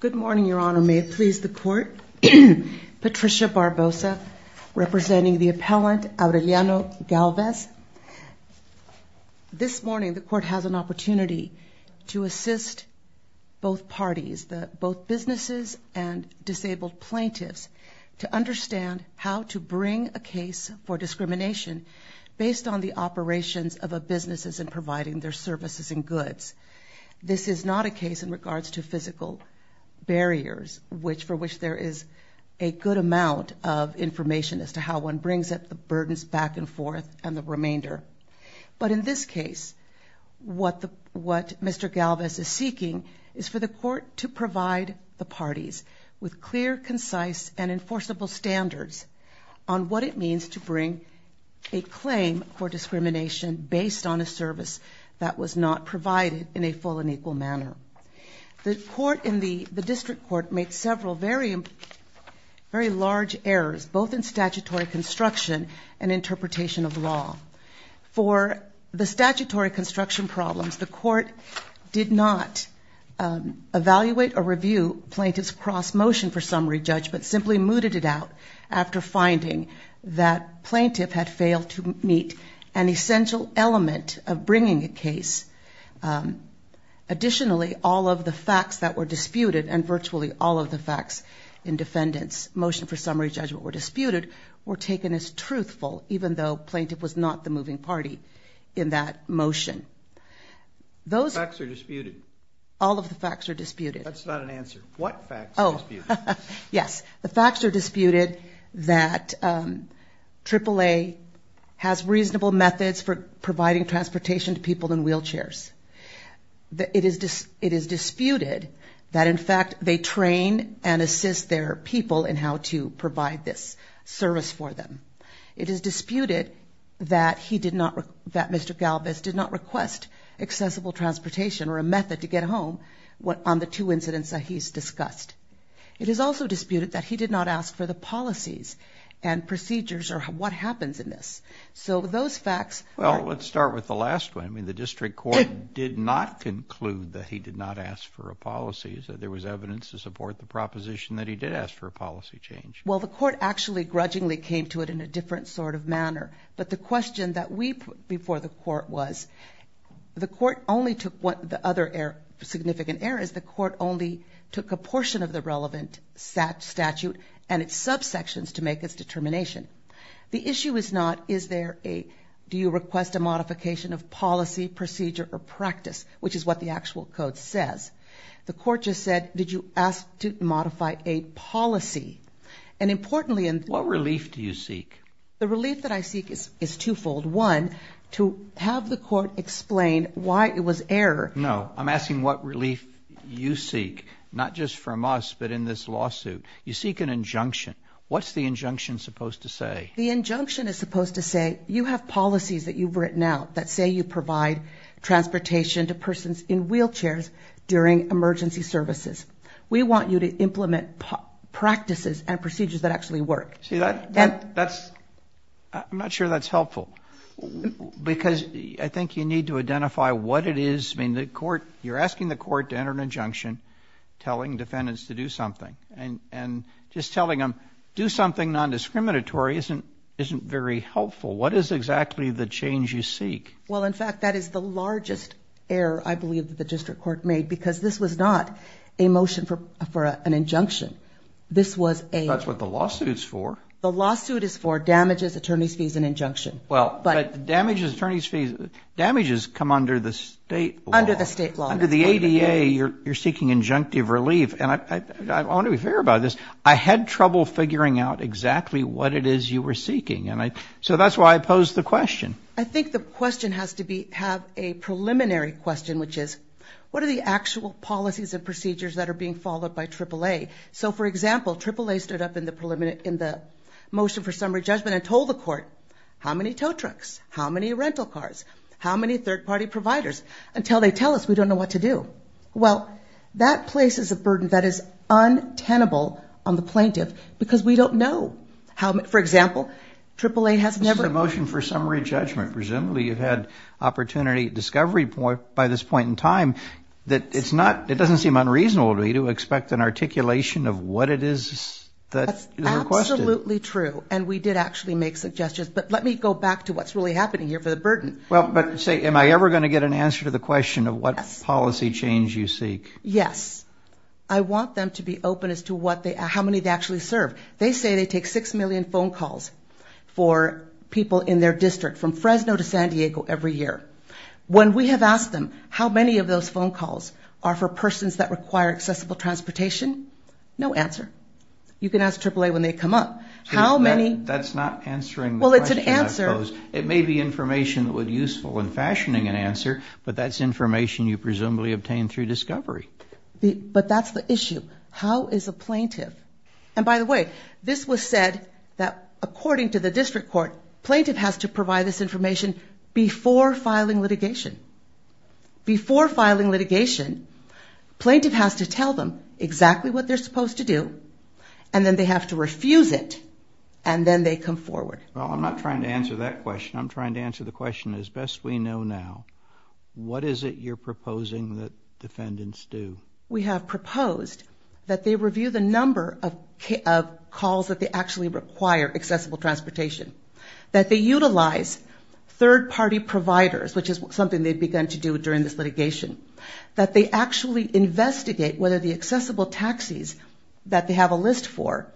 Good morning, Your Honor. May it please the Court. Patricia Barbosa, representing the appellant Aureliano Galvez. This morning, the Court has an opportunity to assist both parties, both businesses and disabled plaintiffs, to understand how to bring a case for discrimination based on the operations of a business and providing their services and goods. This is not a case in regards to physical barriers, for which there is a good amount of information as to how one brings up the burdens back and forth and the remainder. But in this case, what Mr. Galvez is seeking is for the Court to provide the parties with clear, concise, and enforceable standards on what it means to bring a claim for discrimination based on a service that was not provided in a full and equal manner. The District Court made several very large errors, both in statutory construction and interpretation of law. For the statutory construction problems, the Court did not evaluate or review plaintiffs' cross-motion for summary judgment, but simply mooted it out after finding that plaintiff had failed to meet an essential element of bringing a case. Additionally, all of the facts that were disputed and virtually all of the facts in defendants' motion for summary judgment or disputed were taken as truthful, even though plaintiff was not the moving party in that motion. Those facts are disputed. All of the facts are disputed. That's not an answer. What facts are disputed? Yes, the facts are disputed that AAA has reasonable methods for providing transportation to people in wheelchairs. It is disputed that, in fact, they train and assist their people in how to provide this service for them. It is disputed that Mr. Galvez did not request accessible transportation or a method to get home on the two incidents that he's discussed. It is also disputed that he did not ask for the policies and procedures or what happens in this. Well, let's start with the last one. I mean, the district court did not conclude that he did not ask for a policy, that there was evidence to support the proposition that he did ask for a policy change. Well, the court actually grudgingly came to it in a different sort of manner. But the question that we put before the court was the court only took what the other significant error is, the court only took a portion of the relevant statute and its subsections to make its determination. The issue is not is there a do you request a modification of policy, procedure or practice, which is what the actual code says. The court just said, did you ask to modify a policy? And importantly, and what relief do you seek? The relief that I seek is twofold. One, to have the court explain why it was error. No, I'm asking what relief you seek, not just from us, but in this lawsuit, you seek an injunction. What's the injunction supposed to say? The injunction is supposed to say you have policies that you've written out that say you provide transportation to persons in wheelchairs during emergency services. We want you to implement practices and procedures that actually work. See, that that's I'm not sure that's helpful because I think you need to identify what it is. I mean, the court you're asking the court to enter an injunction telling defendants to do something and just telling them do something nondiscriminatory isn't isn't very helpful. What is exactly the change you seek? Well, in fact, that is the largest error. I believe that the district court made because this was not a motion for for an injunction. This was a that's what the lawsuit is for. The lawsuit is for damages, attorneys fees and injunction. Well, but damages, attorneys fees, damages come under the state under the state law under the ADA. You're seeking injunctive relief. And I want to be fair about this. I had trouble figuring out exactly what it is you were seeking. And so that's why I posed the question. I think the question has to be have a preliminary question, which is, what are the actual policies and procedures that are being followed by Triple A? So, for example, Triple A stood up in the preliminary in the motion for summary judgment and told the court, how many tow trucks, how many rental cars, how many third party providers? Until they tell us, we don't know what to do. Well, that place is a burden that is untenable on the plaintiff because we don't know how. For example, Triple A has never motion for summary judgment. Presumably you've had opportunity discovery point by this point in time that it's not. It doesn't seem unreasonable to expect an articulation of what it is. That's absolutely true. And we did actually make suggestions. But let me go back to what's really happening here for the burden. Am I ever going to get an answer to the question of what policy change you seek? Yes. I want them to be open as to how many they actually serve. They say they take 6 million phone calls for people in their district from Fresno to San Diego every year. When we have asked them how many of those phone calls are for persons that require accessible transportation, no answer. You can ask Triple A when they come up. That's not answering the question I posed. It may be information that would be useful in fashioning an answer, but that's information you presumably obtain through discovery. But that's the issue. How is a plaintiff... And by the way, this was said that according to the district court, plaintiff has to provide this information before filing litigation. Before filing litigation, plaintiff has to tell them exactly what they're supposed to do, and then they have to refuse it, and then they come forward. Well, I'm not trying to answer that question. I'm trying to answer the question as best we know now. What is it you're proposing that defendants do? We have proposed that they review the number of calls that they actually require accessible transportation, that they utilize third-party providers, which is something they've begun to do during this litigation, that they actually investigate whether the accessible taxis that they have a list for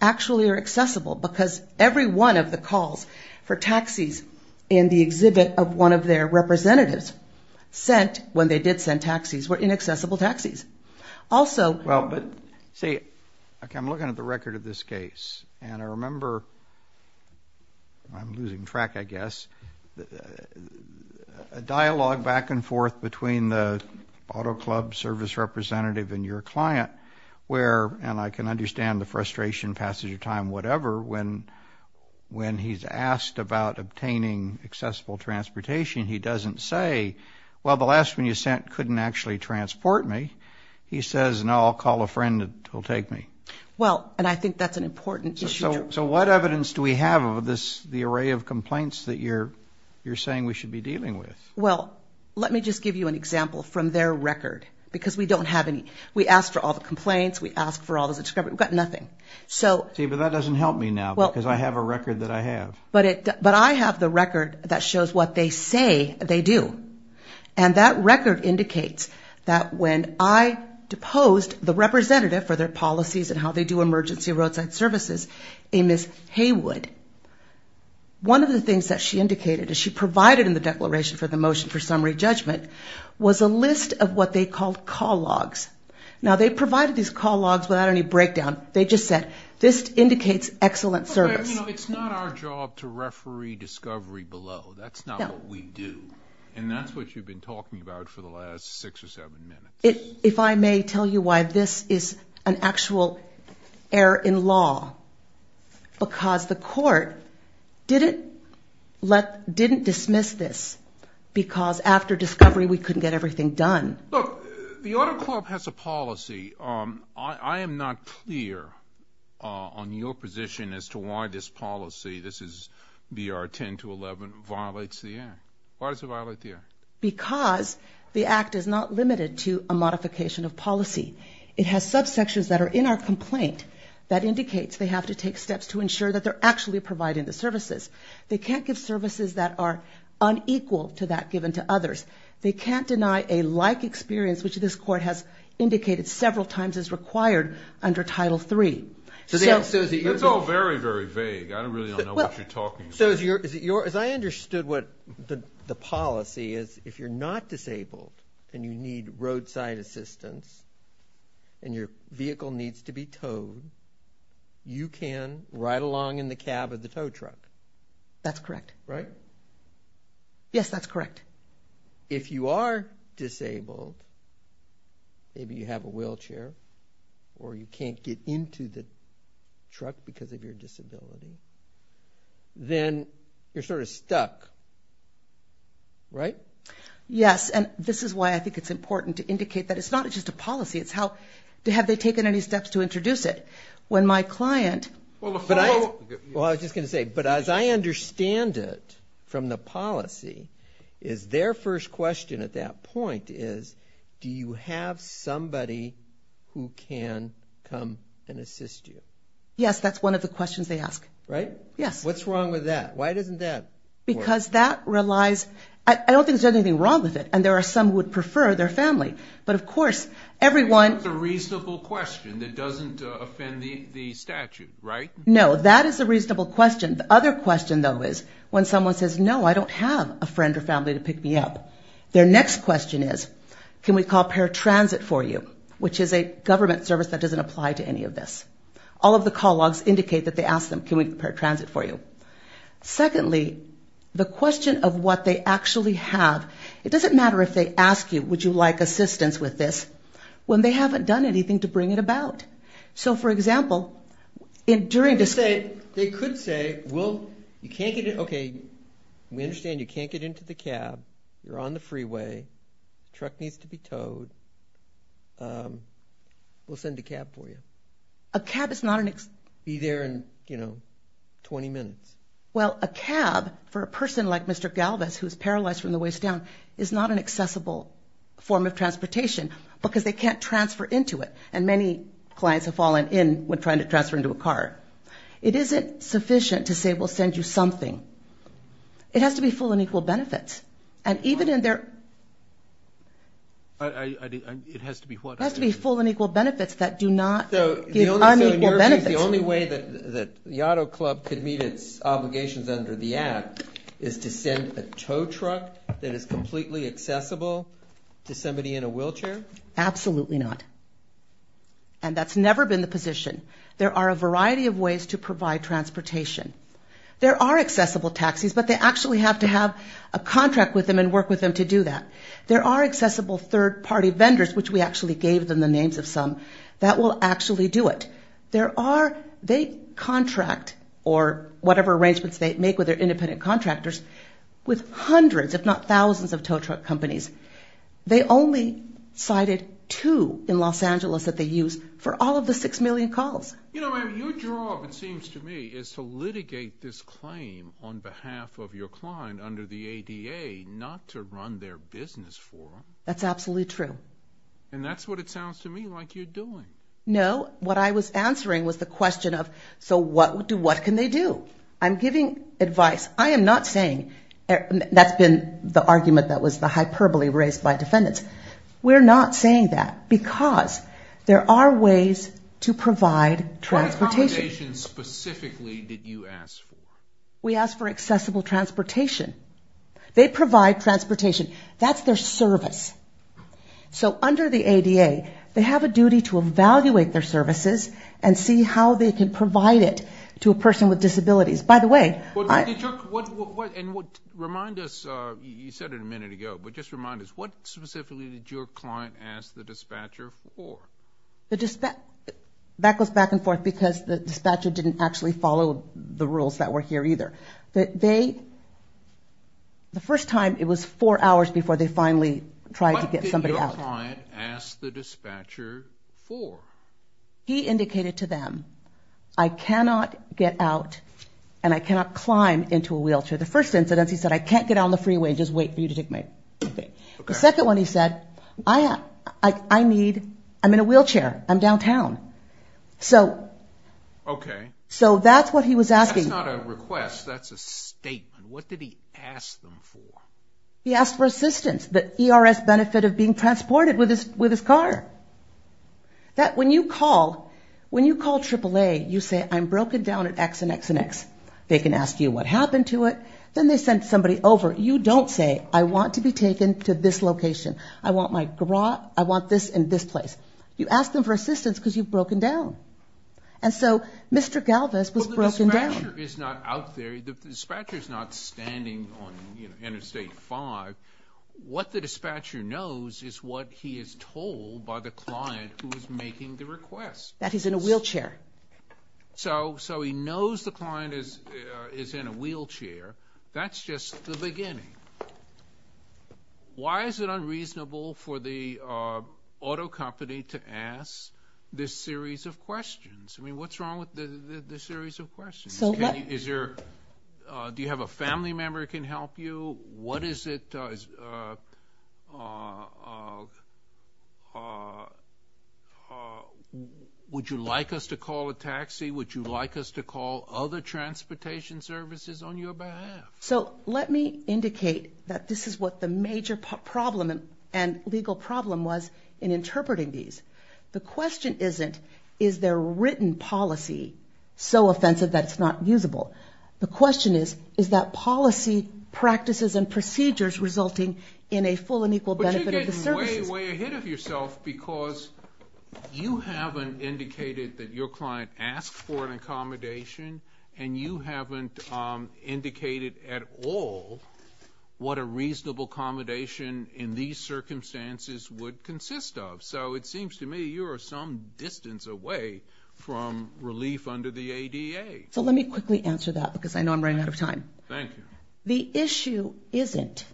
actually are accessible, because every one of the calls for taxis in the exhibit of one of their representatives sent, when they did send taxis, were inaccessible taxis. Also... I'm looking at the record of this case, and I remember... I'm losing track, I guess. A dialogue back and forth between the auto club service representative and your client, where, and I can understand the frustration, passage of time, whatever, when he's asked about obtaining accessible transportation, he doesn't say, well, the last one you sent couldn't actually transport me. He says, no, I'll call a friend that will take me. Well, and I think that's an important issue. So what evidence do we have of the array of complaints that you're saying we should be dealing with? Well, let me just give you an example from their record, because we don't have any. We asked for all the complaints. We asked for all the discoveries. We've got nothing. But that doesn't help me now, because I have a record that I have. But I have the record that shows what they say they do, and that record indicates that when I deposed the representative for their policies and how they do emergency roadside services, Amos Haywood, one of the things that she indicated that she provided in the declaration for the motion for summary judgment was a list of what they called call logs. Now, they provided these call logs without any breakdown. They just said, this indicates excellent service. But, you know, it's not our job to referee discovery below. That's not what we do. And that's what you've been talking about for the last six or seven minutes. If I may tell you why this is an actual error in law, because the court didn't dismiss this because after discovery we couldn't get everything done. Look, the Auto Club has a policy. I am not clear on your position as to why this policy, this is BR 10 to 11, violates the act. Why does it violate the act? Because the act is not limited to a modification of policy. It has subsections that are in our complaint that indicates they have to take steps to ensure that they're actually providing the services. They can't give services that are unequal to that given to others. They can't deny a like experience, which this court has indicated several times is required under Title III. That's all very, very vague. I really don't know what you're talking about. So as I understood what the policy is, if you're not disabled and you need roadside assistance and your vehicle needs to be towed, you can ride along in the cab of the tow truck. That's correct. Right? Yes, that's correct. If you are disabled, maybe you have a wheelchair or you can't get into the truck because of your disability, then you're sort of stuck, right? Yes, and this is why I think it's important to indicate that it's not just a policy. It's how have they taken any steps to introduce it. When my client- Well, I was just going to say, but as I understand it from the policy, is their first question at that point is do you have somebody who can come and assist you? Yes, that's one of the questions they ask. Right? Yes. What's wrong with that? Why doesn't that- Because that relies- I don't think there's anything wrong with it, and there are some who would prefer their family, but of course everyone- That's a reasonable question that doesn't offend the statute, right? No, that is a reasonable question. The other question, though, is when someone says, no, I don't have a friend or family to pick me up, their next question is can we call paratransit for you, which is a government service that doesn't apply to any of this. All of the call logs indicate that they ask them can we paratransit for you. Secondly, the question of what they actually have, it doesn't matter if they ask you would you like assistance with this when they haven't done anything to bring it about. So, for example, during this- They could say, well, you can't get- Okay, we understand you can't get into the cab. You're on the freeway. The truck needs to be towed. We'll send a cab for you. A cab is not an- Be there in, you know, 20 minutes. Well, a cab for a person like Mr. Galvez, who's paralyzed from the waist down, is not an accessible form of transportation because they can't transfer into it, and many clients have fallen in when trying to transfer into a car. It isn't sufficient to say we'll send you something. It has to be full and equal benefits, and even in their- It has to be what? It has to be full and equal benefits that do not give unequal benefits. So in your view, the only way that the auto club could meet its obligations under the Act is to send a tow truck that is completely accessible to somebody in a wheelchair? Absolutely not, and that's never been the position. There are a variety of ways to provide transportation. There are accessible taxis, but they actually have to have a contract with them and work with them to do that. There are accessible third-party vendors, which we actually gave them the names of some, that will actually do it. There are- They contract, or whatever arrangements they make with their independent contractors, with hundreds if not thousands of tow truck companies. They only cited two in Los Angeles that they use for all of the 6 million calls. Your job, it seems to me, is to litigate this claim on behalf of your client under the ADA not to run their business for them. That's absolutely true. And that's what it sounds to me like you're doing. No, what I was answering was the question of, so what can they do? I'm giving advice. I am not saying- That's been the argument that was the hyperbole raised by defendants. We're not saying that because there are ways to provide transportation. What accommodations specifically did you ask for? We asked for accessible transportation. They provide transportation. That's their service. So under the ADA, they have a duty to evaluate their services and see how they can provide it to a person with disabilities. By the way- And remind us, you said it a minute ago, but just remind us, what specifically did your client ask the dispatcher for? That goes back and forth because the dispatcher didn't actually follow the rules that were here either. The first time, it was four hours before they finally tried to get somebody out. What did your client ask the dispatcher for? He indicated to them, I cannot get out and I cannot climb into a wheelchair. The first incidence, he said, I can't get out on the freeway and just wait for you to take me. The second one, he said, I'm in a wheelchair. I'm downtown. So that's what he was asking. That's not a request. That's a statement. What did he ask them for? He asked for assistance, the ERS benefit of being transported with his car. That when you call, when you call AAA, you say, I'm broken down at X and X and X. They can ask you what happened to it. Then they send somebody over. You don't say, I want to be taken to this location. I want my garage. I want this in this place. You ask them for assistance because you've broken down. And so Mr. Galvis was broken down. The dispatcher is not out there. The dispatcher is not standing on Interstate 5. What the dispatcher knows is what he is told by the client who is making the request. That he's in a wheelchair. So he knows the client is in a wheelchair. That's just the beginning. Why is it unreasonable for the auto company to ask this series of questions? I mean, what's wrong with this series of questions? Do you have a family member who can help you? What is it? Would you like us to call a taxi? Would you like us to call other transportation services on your behalf? So let me indicate that this is what the major problem and legal problem was in interpreting these. The question isn't, is their written policy so offensive that it's not usable? The question is, is that policy practices and procedures resulting in a full and equal benefit of the services? But you're getting way ahead of yourself because you haven't indicated that your client asked for an accommodation. And you haven't indicated at all what a reasonable accommodation in these circumstances would consist of. So it seems to me you are some distance away from relief under the ADA. So let me quickly answer that because I know I'm running out of time. Thank you. The issue isn't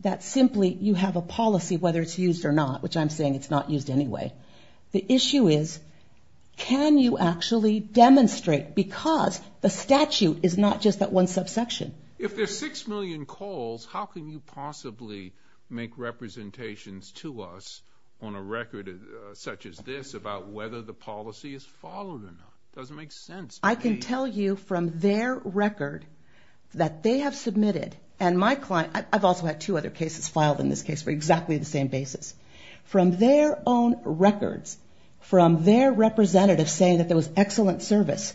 that simply you have a policy whether it's used or not, which I'm saying it's not used anyway. The issue is, can you actually demonstrate because the statute is not just that one subsection? If there's six million calls, how can you possibly make representations to us on a record such as this about whether the policy is followed or not? It doesn't make sense. I can tell you from their record that they have submitted, and my client, I've also had two other cases filed in this case for exactly the same basis. From their own records, from their representatives saying that there was excellent service,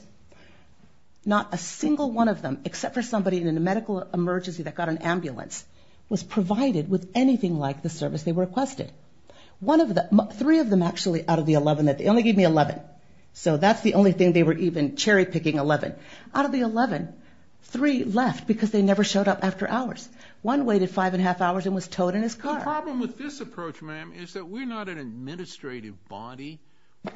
not a single one of them, except for somebody in a medical emergency that got an ambulance, was provided with anything like the service they requested. Three of them actually out of the 11 that they only gave me 11. So that's the only thing they were even cherry-picking, 11. Out of the 11, three left because they never showed up after hours. One waited five and a half hours and was towed in his car. The problem with this approach, ma'am, is that we're not an administrative body.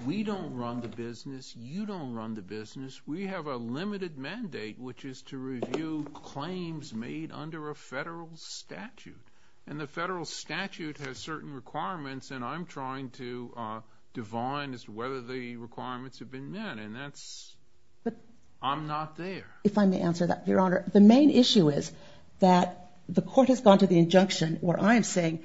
We don't run the business. You don't run the business. We have a limited mandate, which is to review claims made under a federal statute, and the federal statute has certain requirements, and I'm trying to divine as to whether the requirements have been met, and I'm not there. If I may answer that, Your Honor, the main issue is that the court has gone to the injunction where I am saying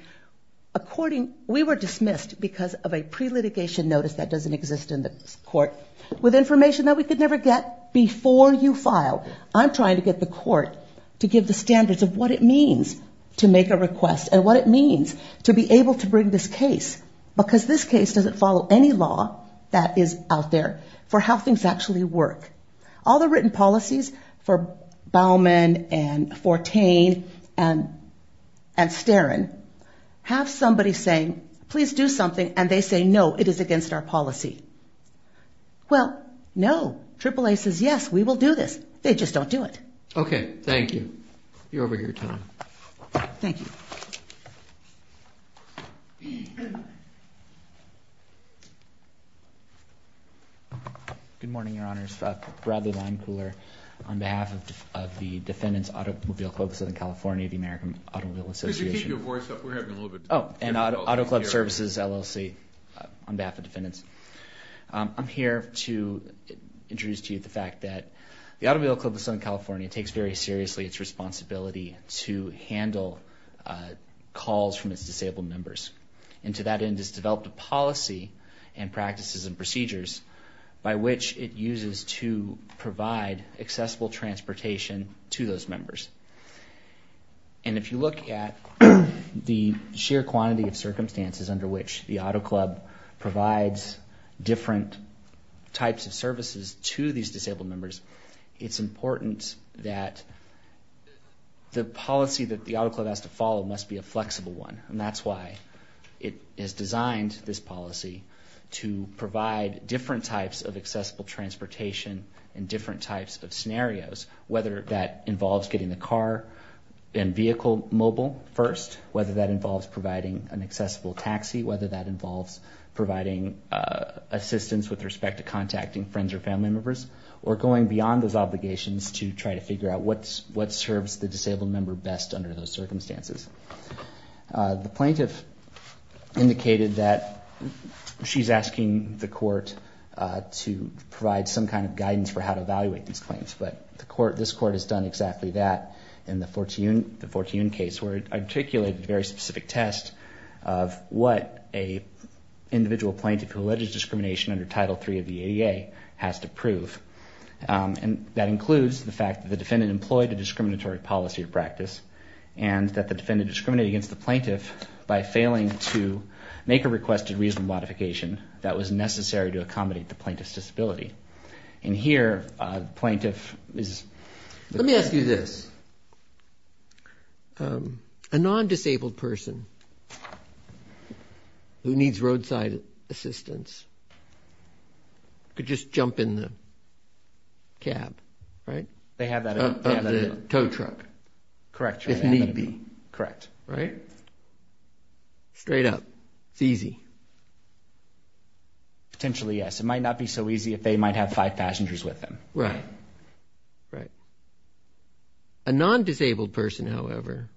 we were dismissed because of a pre-litigation notice that doesn't exist in the court with information that we could never get before you file. I'm trying to get the court to give the standards of what it means to make a request and what it means to be able to bring this case, because this case doesn't follow any law that is out there for how things actually work. All the written policies for Baumann and Fortayn and Sterin have somebody saying, please do something, and they say, no, it is against our policy. Well, no. AAA says, yes, we will do this. They just don't do it. Okay. Thank you. You're over here, Tony. Thank you. Good morning, Your Honors. Bradley Lime Cooler on behalf of the Defendant's Automobile Club of Southern California, the American Automobile Association. Could you keep your voice up? We're having a little bit of difficulty here. Oh, and Auto Club Services, LLC, on behalf of defendants. I'm here to introduce to you the fact that the Automobile Club of Southern California takes very seriously its responsibility to handle calls from its disabled members, and to that end has developed a policy and practices and procedures by which it uses to provide accessible transportation to those members. And if you look at the sheer quantity of circumstances under which the Auto Club provides different types of services to these disabled members, it's important that the policy that the Auto Club has to follow must be a flexible one, and that's why it has designed this policy to provide different types of accessible transportation in different types of scenarios, whether that involves getting the car and vehicle mobile first, whether that involves providing an accessible taxi, whether that involves providing assistance with respect to contacting friends or family members, or going beyond those obligations to try to figure out what serves the disabled member best under those circumstances. The plaintiff indicated that she's asking the court to provide some kind of guidance for how to evaluate these claims, but this court has done exactly that in the Fortune case where it articulated a very specific test of what an individual plaintiff who alleges discrimination under Title III of the ADA has to prove, and that includes the fact that the defendant employed a discriminatory policy or practice and that the defendant discriminated against the plaintiff by failing to make a requested reasonable modification that was necessary to accommodate the plaintiff's disability. And here the plaintiff is... For instance, could just jump in the cab, right? They have that available. Of the tow truck. Correct. If need be. Right? Straight up. It's easy. Potentially, yes. It might not be so easy if they might have five passengers with them. Right. Right. A non-disabled person, however...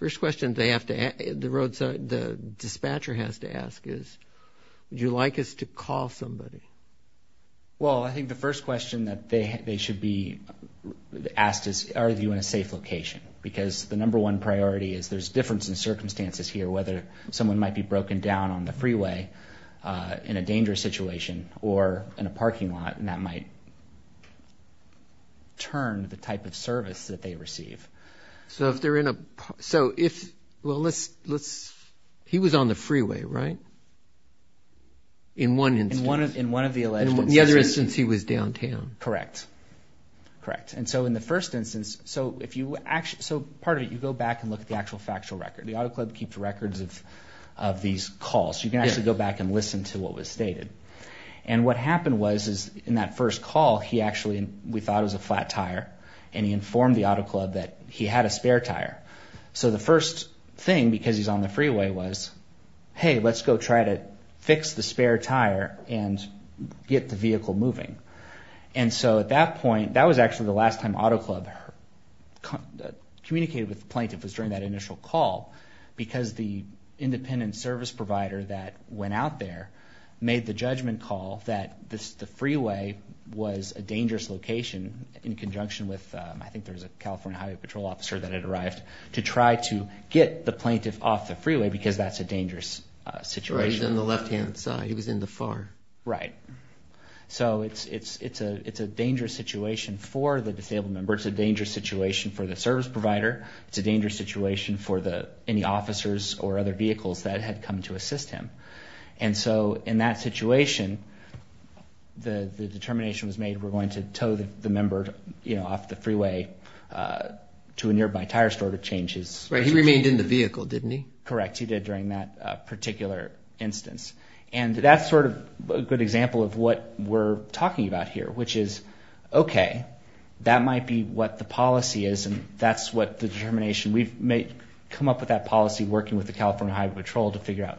The first question the dispatcher has to ask is, would you like us to call somebody? Well, I think the first question that they should be asked is, are you in a safe location? Because the number one priority is there's difference in circumstances here, whether someone might be broken down on the freeway in a dangerous situation or in a parking lot, and that might turn the type of service that they receive. So if they're in a... So if... Well, let's... He was on the freeway, right? In one instance. In one of the alleged instances. In the other instance, he was downtown. Correct. Correct. And so in the first instance... So part of it, you go back and look at the actual factual record. The Auto Club keeps records of these calls. You can actually go back and listen to what was stated. And what happened was, in that first call, we thought it was a flat tire, and he informed the Auto Club that he had a spare tire. So the first thing, because he's on the freeway, was, hey, let's go try to fix the spare tire and get the vehicle moving. And so at that point, that was actually the last time Auto Club communicated with the plaintiff, was during that initial call, because the independent service provider that went out there made the judgment call that the freeway was a dangerous location in conjunction with, I think there was a California Highway Patrol officer that had arrived to try to get the plaintiff off the freeway, because that's a dangerous situation. He was on the left-hand side. He was in the far. Right. So it's a dangerous situation for the disabled member. It's a dangerous situation for the service provider. It's a dangerous situation for any officers or other vehicles that had come to assist him. And so in that situation, the determination was made, we're going to tow the member off the freeway to a nearby tire store to change his. Right. He remained in the vehicle, didn't he? Correct. He did during that particular instance. And that's sort of a good example of what we're talking about here, which is, okay, that might be what the policy is, and that's what the determination. We've come up with that policy working with the California Highway Patrol to figure out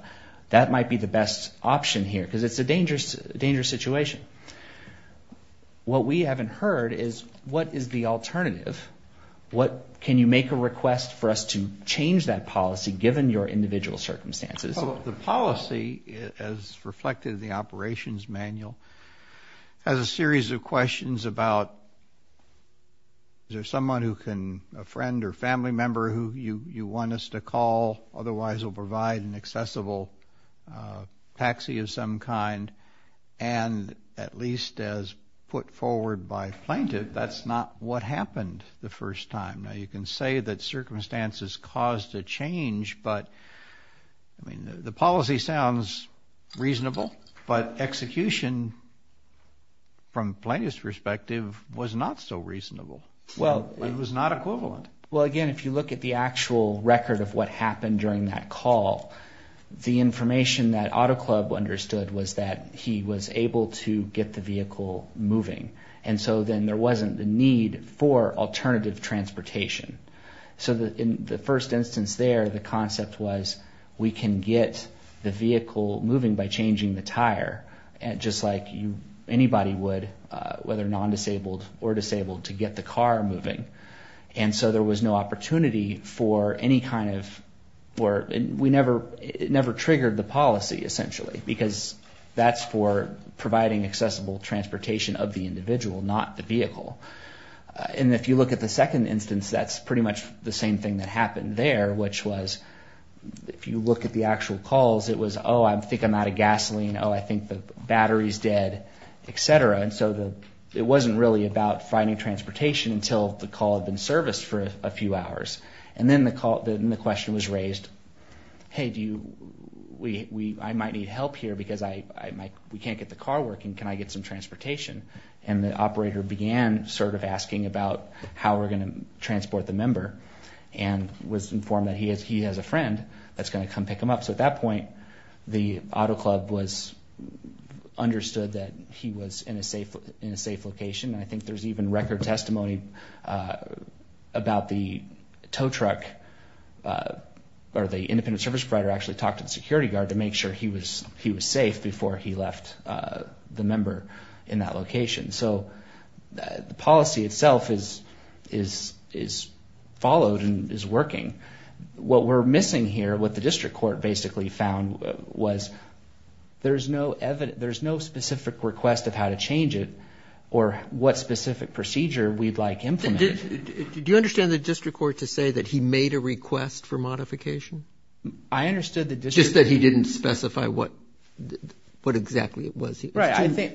that might be the best option here, because it's a dangerous situation. What we haven't heard is, what is the alternative? Can you make a request for us to change that policy, given your individual circumstances? The policy, as reflected in the operations manual, has a series of questions about, is there someone who can, a friend or family member who you want us to call, otherwise we'll provide an accessible taxi of some kind, and at least as put forward by plaintiff, that's not what happened the first time. Now, you can say that circumstances caused a change, but the policy sounds reasonable, but execution from plaintiff's perspective was not so reasonable. It was not equivalent. Well, again, if you look at the actual record of what happened during that call, the information that Auto Club understood was that he was able to get the vehicle moving, and so then there wasn't the need for alternative transportation. So in the first instance there, the concept was, we can get the vehicle moving by changing the tire, just like anybody would, whether non-disabled or disabled, to get the car moving. And so there was no opportunity for any kind of, it never triggered the policy, essentially, because that's for providing accessible transportation of the individual, not the vehicle. And if you look at the second instance, that's pretty much the same thing that happened there, which was, if you look at the actual calls, it was, oh, I think I'm out of gasoline, oh, I think the battery's dead, et cetera. And so it wasn't really about finding transportation until the call had been serviced for a few hours. And then the question was raised, hey, I might need help here because we can't get the car working, can I get some transportation? And the operator began sort of asking about how we're going to transport the member and was informed that he has a friend that's going to come pick him up. So at that point, the auto club understood that he was in a safe location, and I think there's even record testimony about the tow truck, or the independent service provider actually talked to the security guard to make sure he was safe before he left the member in that location. What we're missing here, what the district court basically found, was there's no specific request of how to change it or what specific procedure we'd like implemented. Did you understand the district court to say that he made a request for modification? I understood the district court. Just that he didn't specify what exactly it was. It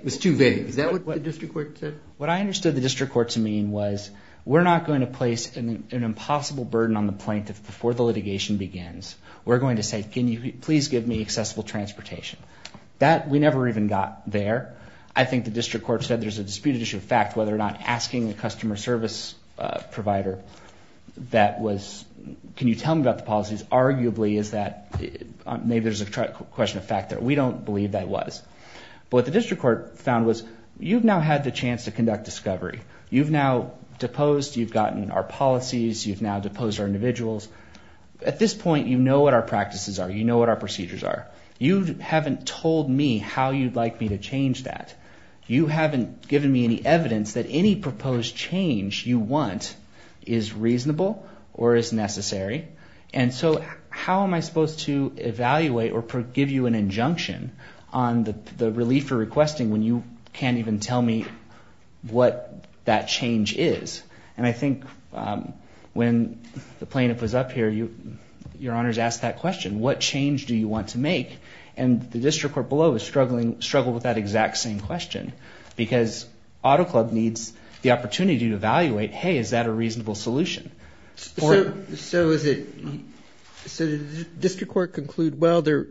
was too vague. Is that what the district court said? What I understood the district court to mean was we're not going to place an impossible burden on the plaintiff before the litigation begins. We're going to say, can you please give me accessible transportation? That we never even got there. I think the district court said there's a disputed issue of fact whether or not asking the customer service provider that was, can you tell me about the policies, arguably is that, maybe there's a question of fact there. We don't believe that was. But what the district court found was you've now had the chance to conduct discovery. You've now deposed. You've gotten our policies. You've now deposed our individuals. At this point, you know what our practices are. You know what our procedures are. You haven't told me how you'd like me to change that. You haven't given me any evidence that any proposed change you want is reasonable or is necessary. And so how am I supposed to evaluate or give you an injunction on the relief for requesting when you can't even tell me what that change is? And I think when the plaintiff was up here, your honors asked that question. What change do you want to make? And the district court below is struggling with that exact same question because Auto Club needs the opportunity to evaluate, hey, is that a reasonable solution? So does the district court conclude, well, there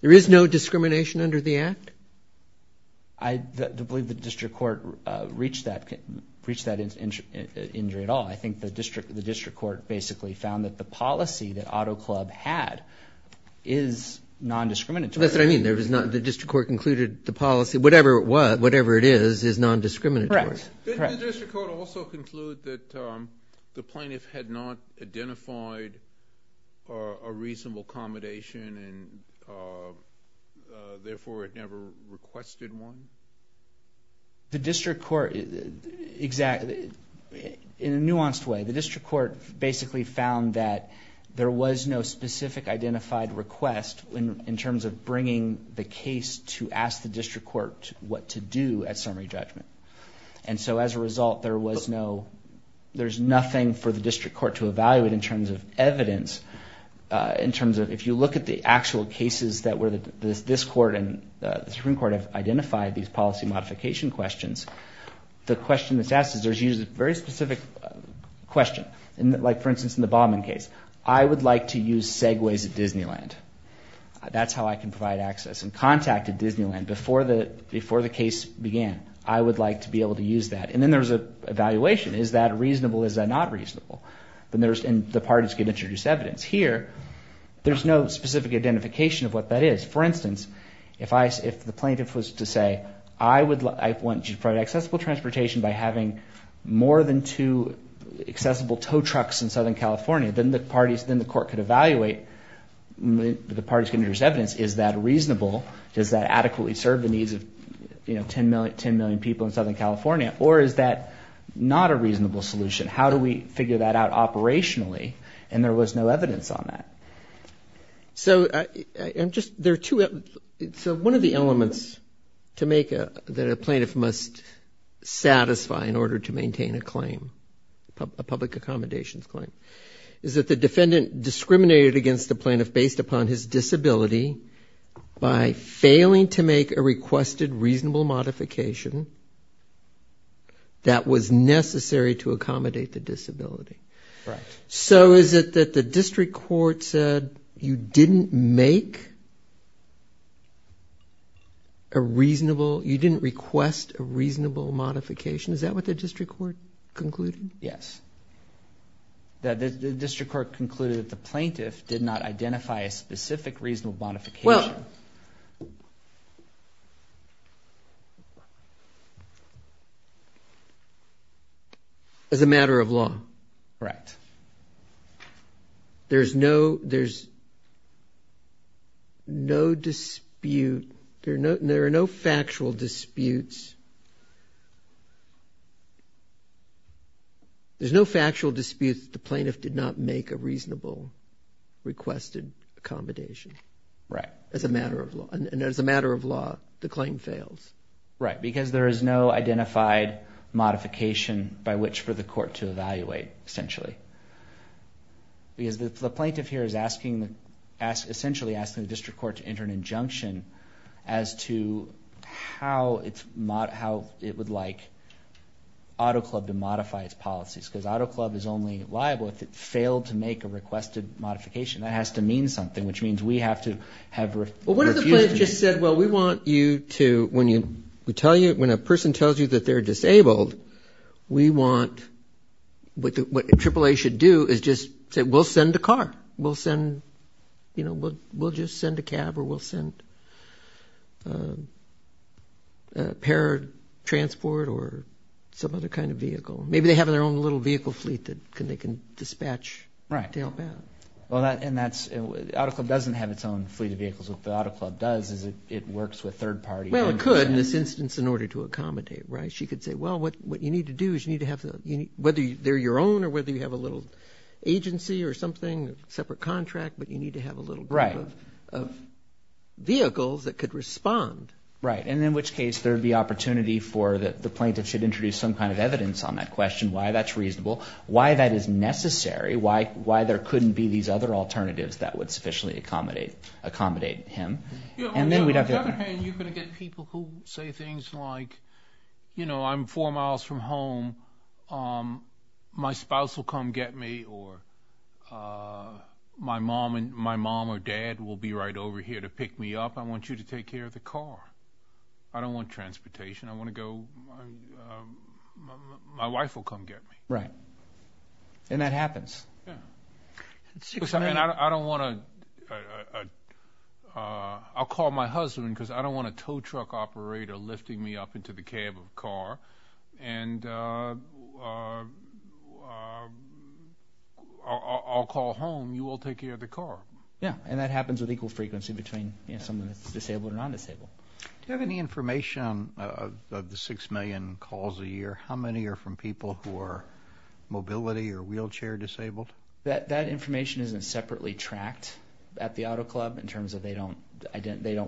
is no discrimination under the act? I believe the district court reached that injury at all. I think the district court basically found that the policy that Auto Club had is nondiscriminatory. That's what I mean. The district court concluded the policy, whatever it was, whatever it is, is nondiscriminatory. Correct. Did the district court also conclude that the plaintiff had not identified a reasonable accommodation and therefore it never requested one? The district court, in a nuanced way, the district court basically found that there was no specific identified request in terms of bringing the case to ask the district court what to do at summary judgment. And so as a result, there's nothing for the district court to evaluate in terms of evidence, in terms of if you look at the actual cases that this court and the Supreme Court have identified, these policy modification questions, the question that's asked is there's usually a very specific question. Like, for instance, in the Baughman case, I would like to use Segways at Disneyland. That's how I can provide access and contact at Disneyland before the case began. I would like to be able to use that. And then there's an evaluation. Is that reasonable? Is that not reasonable? And the parties can introduce evidence. Here, there's no specific identification of what that is. For instance, if the plaintiff was to say, I want to provide accessible transportation by having more than two accessible tow trucks in Southern California, then the parties, then the court could evaluate. The parties can introduce evidence. Is that reasonable? Does that adequately serve the needs of, you know, 10 million people in Southern California? Or is that not a reasonable solution? How do we figure that out operationally? And there was no evidence on that. So I'm just, there are two, so one of the elements to make a, that a plaintiff must satisfy in order to maintain a claim, a public accommodations claim, is that the defendant discriminated against the plaintiff based upon his disability by failing to make a requested reasonable modification that was necessary to accommodate the disability. Right. So is it that the district court said you didn't make a reasonable, you didn't request a reasonable modification? Is that what the district court concluded? Yes. The district court concluded that the plaintiff did not identify a specific reasonable modification. Well. As a matter of law. Correct. There's no, there's no dispute. There are no factual disputes. There's no factual disputes that the plaintiff did not make a reasonable requested accommodation. Right. As a matter of law. And as a matter of law, the claim fails. Right, because there is no identified modification by which for the court to evaluate, essentially. Because the plaintiff here is asking, essentially asking the district court to enter an injunction as to how it would like Auto Club to modify its policies, because Auto Club is only liable if it failed to make a requested modification. That has to mean something, which means we have to have refusals. Well, what if the plaintiff just said, well, we want you to, when you, we tell you, when a person tells you that they're disabled, we want, what AAA should do is just say, we'll send a car, we'll send, you know, we'll just send a cab or we'll send a paratransport or some other kind of vehicle. Maybe they have their own little vehicle fleet that they can dispatch to help out. Right. Well, and that's, Auto Club doesn't have its own fleet of vehicles. What the Auto Club does is it works with third parties. Well, it could in this instance in order to accommodate, right? She could say, well, what you need to do is you need to have, whether they're your own or whether you have a little agency or something, a separate contract, but you need to have a little group of vehicles that could respond. Right, and in which case there would be opportunity for the plaintiff should introduce some kind of evidence on that question, why that's reasonable, why that is necessary, why there couldn't be these other alternatives that would sufficiently accommodate him. On the other hand, you're going to get people who say things like, you know, I'm four miles from home. My spouse will come get me or my mom or dad will be right over here to pick me up. I want you to take care of the car. I don't want transportation. I want to go, my wife will come get me. Right, and that happens. I don't want to, I'll call my husband because I don't want a tow truck operator lifting me up into the cab of a car and I'll call home, you will take care of the car. Yeah, and that happens with equal frequency between someone that's disabled and non-disabled. Do you have any information of the six million calls a year? How many are from people who are mobility or wheelchair disabled? That information isn't separately tracked at the Auto Club in terms of they don't,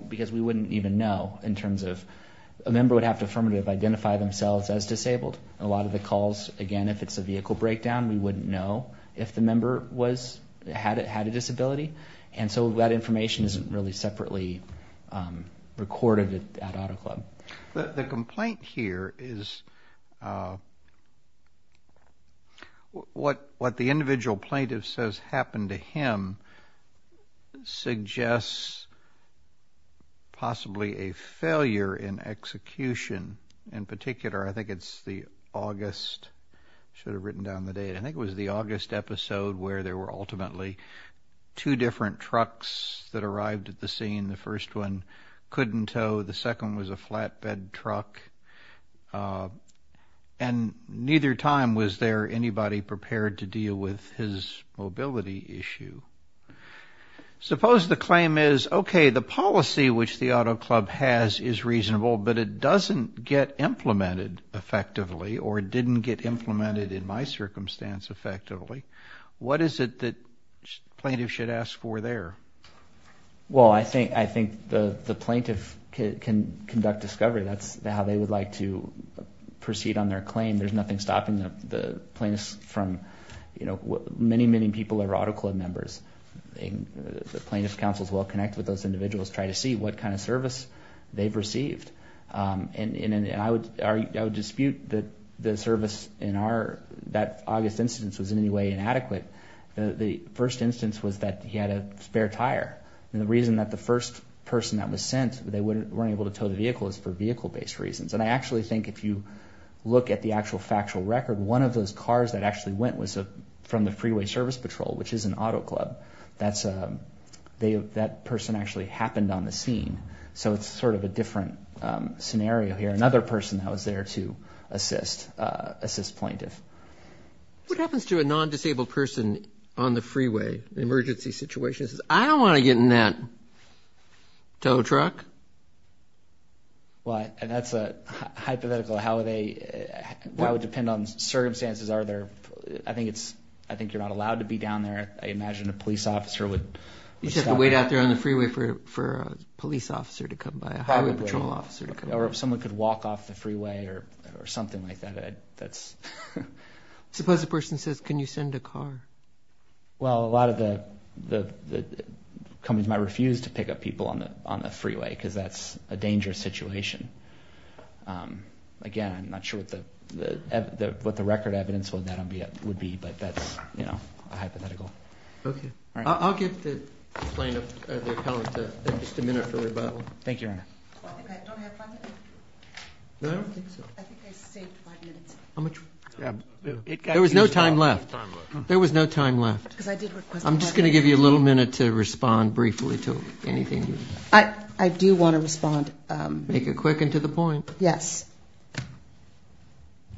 because we wouldn't even know in terms of a member would have to affirmatively identify themselves as disabled. A lot of the calls, again, if it's a vehicle breakdown, we wouldn't know if the member had a disability. And so that information isn't really separately recorded at Auto Club. The complaint here is what the individual plaintiff says happened to him suggests possibly a failure in execution. In particular, I think it's the August, I should have written down the date, I think it was the August episode where there were ultimately two different trucks that arrived at the scene. The first one couldn't tow. The second was a flatbed truck. And neither time was there anybody prepared to deal with his mobility issue. Suppose the claim is, OK, the policy which the Auto Club has is reasonable, but it doesn't get implemented effectively or didn't get implemented in my circumstance effectively. What is it that plaintiff should ask for there? Well, I think the plaintiff can conduct discovery. That's how they would like to proceed on their claim. There's nothing stopping the plaintiff from, you know, many, many people are Auto Club members. The Plaintiff's Council is well-connected with those individuals trying to see what kind of service they've received. And I would dispute that the service in that August instance was in any way inadequate. The first instance was that he had a spare tire. And the reason that the first person that was sent, they weren't able to tow the vehicle is for vehicle-based reasons. And I actually think if you look at the actual factual record, one of those cars that actually went was from the Freeway Service Patrol, which is an Auto Club. That person actually happened on the scene. So it's sort of a different scenario here. Another person that was there to assist plaintiff. What happens to a non-disabled person on the freeway in an emergency situation that says, I don't want to get in that tow truck? Well, and that's a hypothetical. That would depend on circumstances. I think you're not allowed to be down there. I imagine a police officer would stop you. You'd just have to wait out there on the freeway for a police officer to come by, a highway patrol officer to come by. Or someone could walk off the freeway or something like that. Suppose the person says, can you send a car? Well, a lot of the companies might refuse to pick up people on the freeway because that's a dangerous situation. Again, I'm not sure what the record evidence would be, but that's a hypothetical. I'll give the plaintiff, the appellant, just a minute for rebuttal. Thank you, Your Honor. There was no time left. There was no time left. I'm just going to give you a little minute to respond briefly to anything. I do want to respond. Make it quick and to the point. Yes.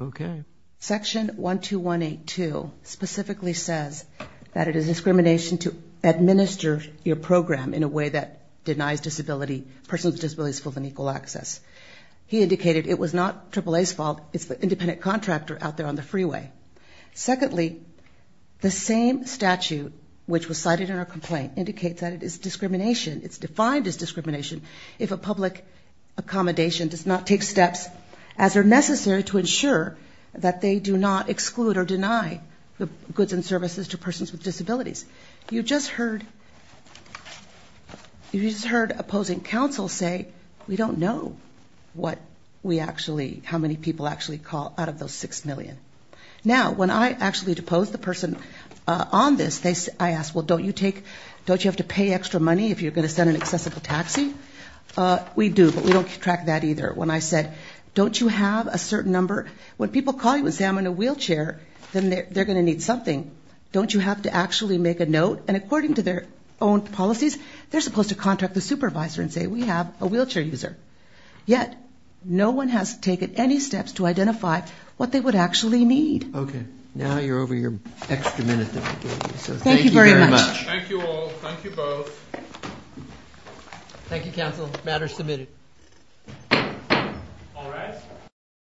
Okay. Section 12182 specifically says that it is discrimination to administer your program in a way that denies disability, persons with disabilities, full and equal access. He indicated it was not AAA's fault. It's the independent contractor out there on the freeway. Secondly, the same statute which was cited in our complaint indicates that it is discrimination. It's defined as discrimination if a public accommodation does not take steps as are necessary to ensure that they do not exclude or deny the goods and services to persons with disabilities. You just heard opposing counsel say we don't know what we actually, how many people actually call out of those 6 million. Now, when I actually deposed the person on this, I asked, well, don't you have to pay extra money if you're going to send an accessible taxi? We do, but we don't track that either. When I said, don't you have a certain number? When people call you and say I'm in a wheelchair, then they're going to need something. Don't you have to actually make a note? And according to their own policies, they're supposed to contract the supervisor and say we have a wheelchair user. Yet no one has taken any steps to identify what they would actually need. Okay. Now you're over your extra minute. Thank you very much. Thank you all. Thank you both. Thank you, counsel. Matter submitted. All rise.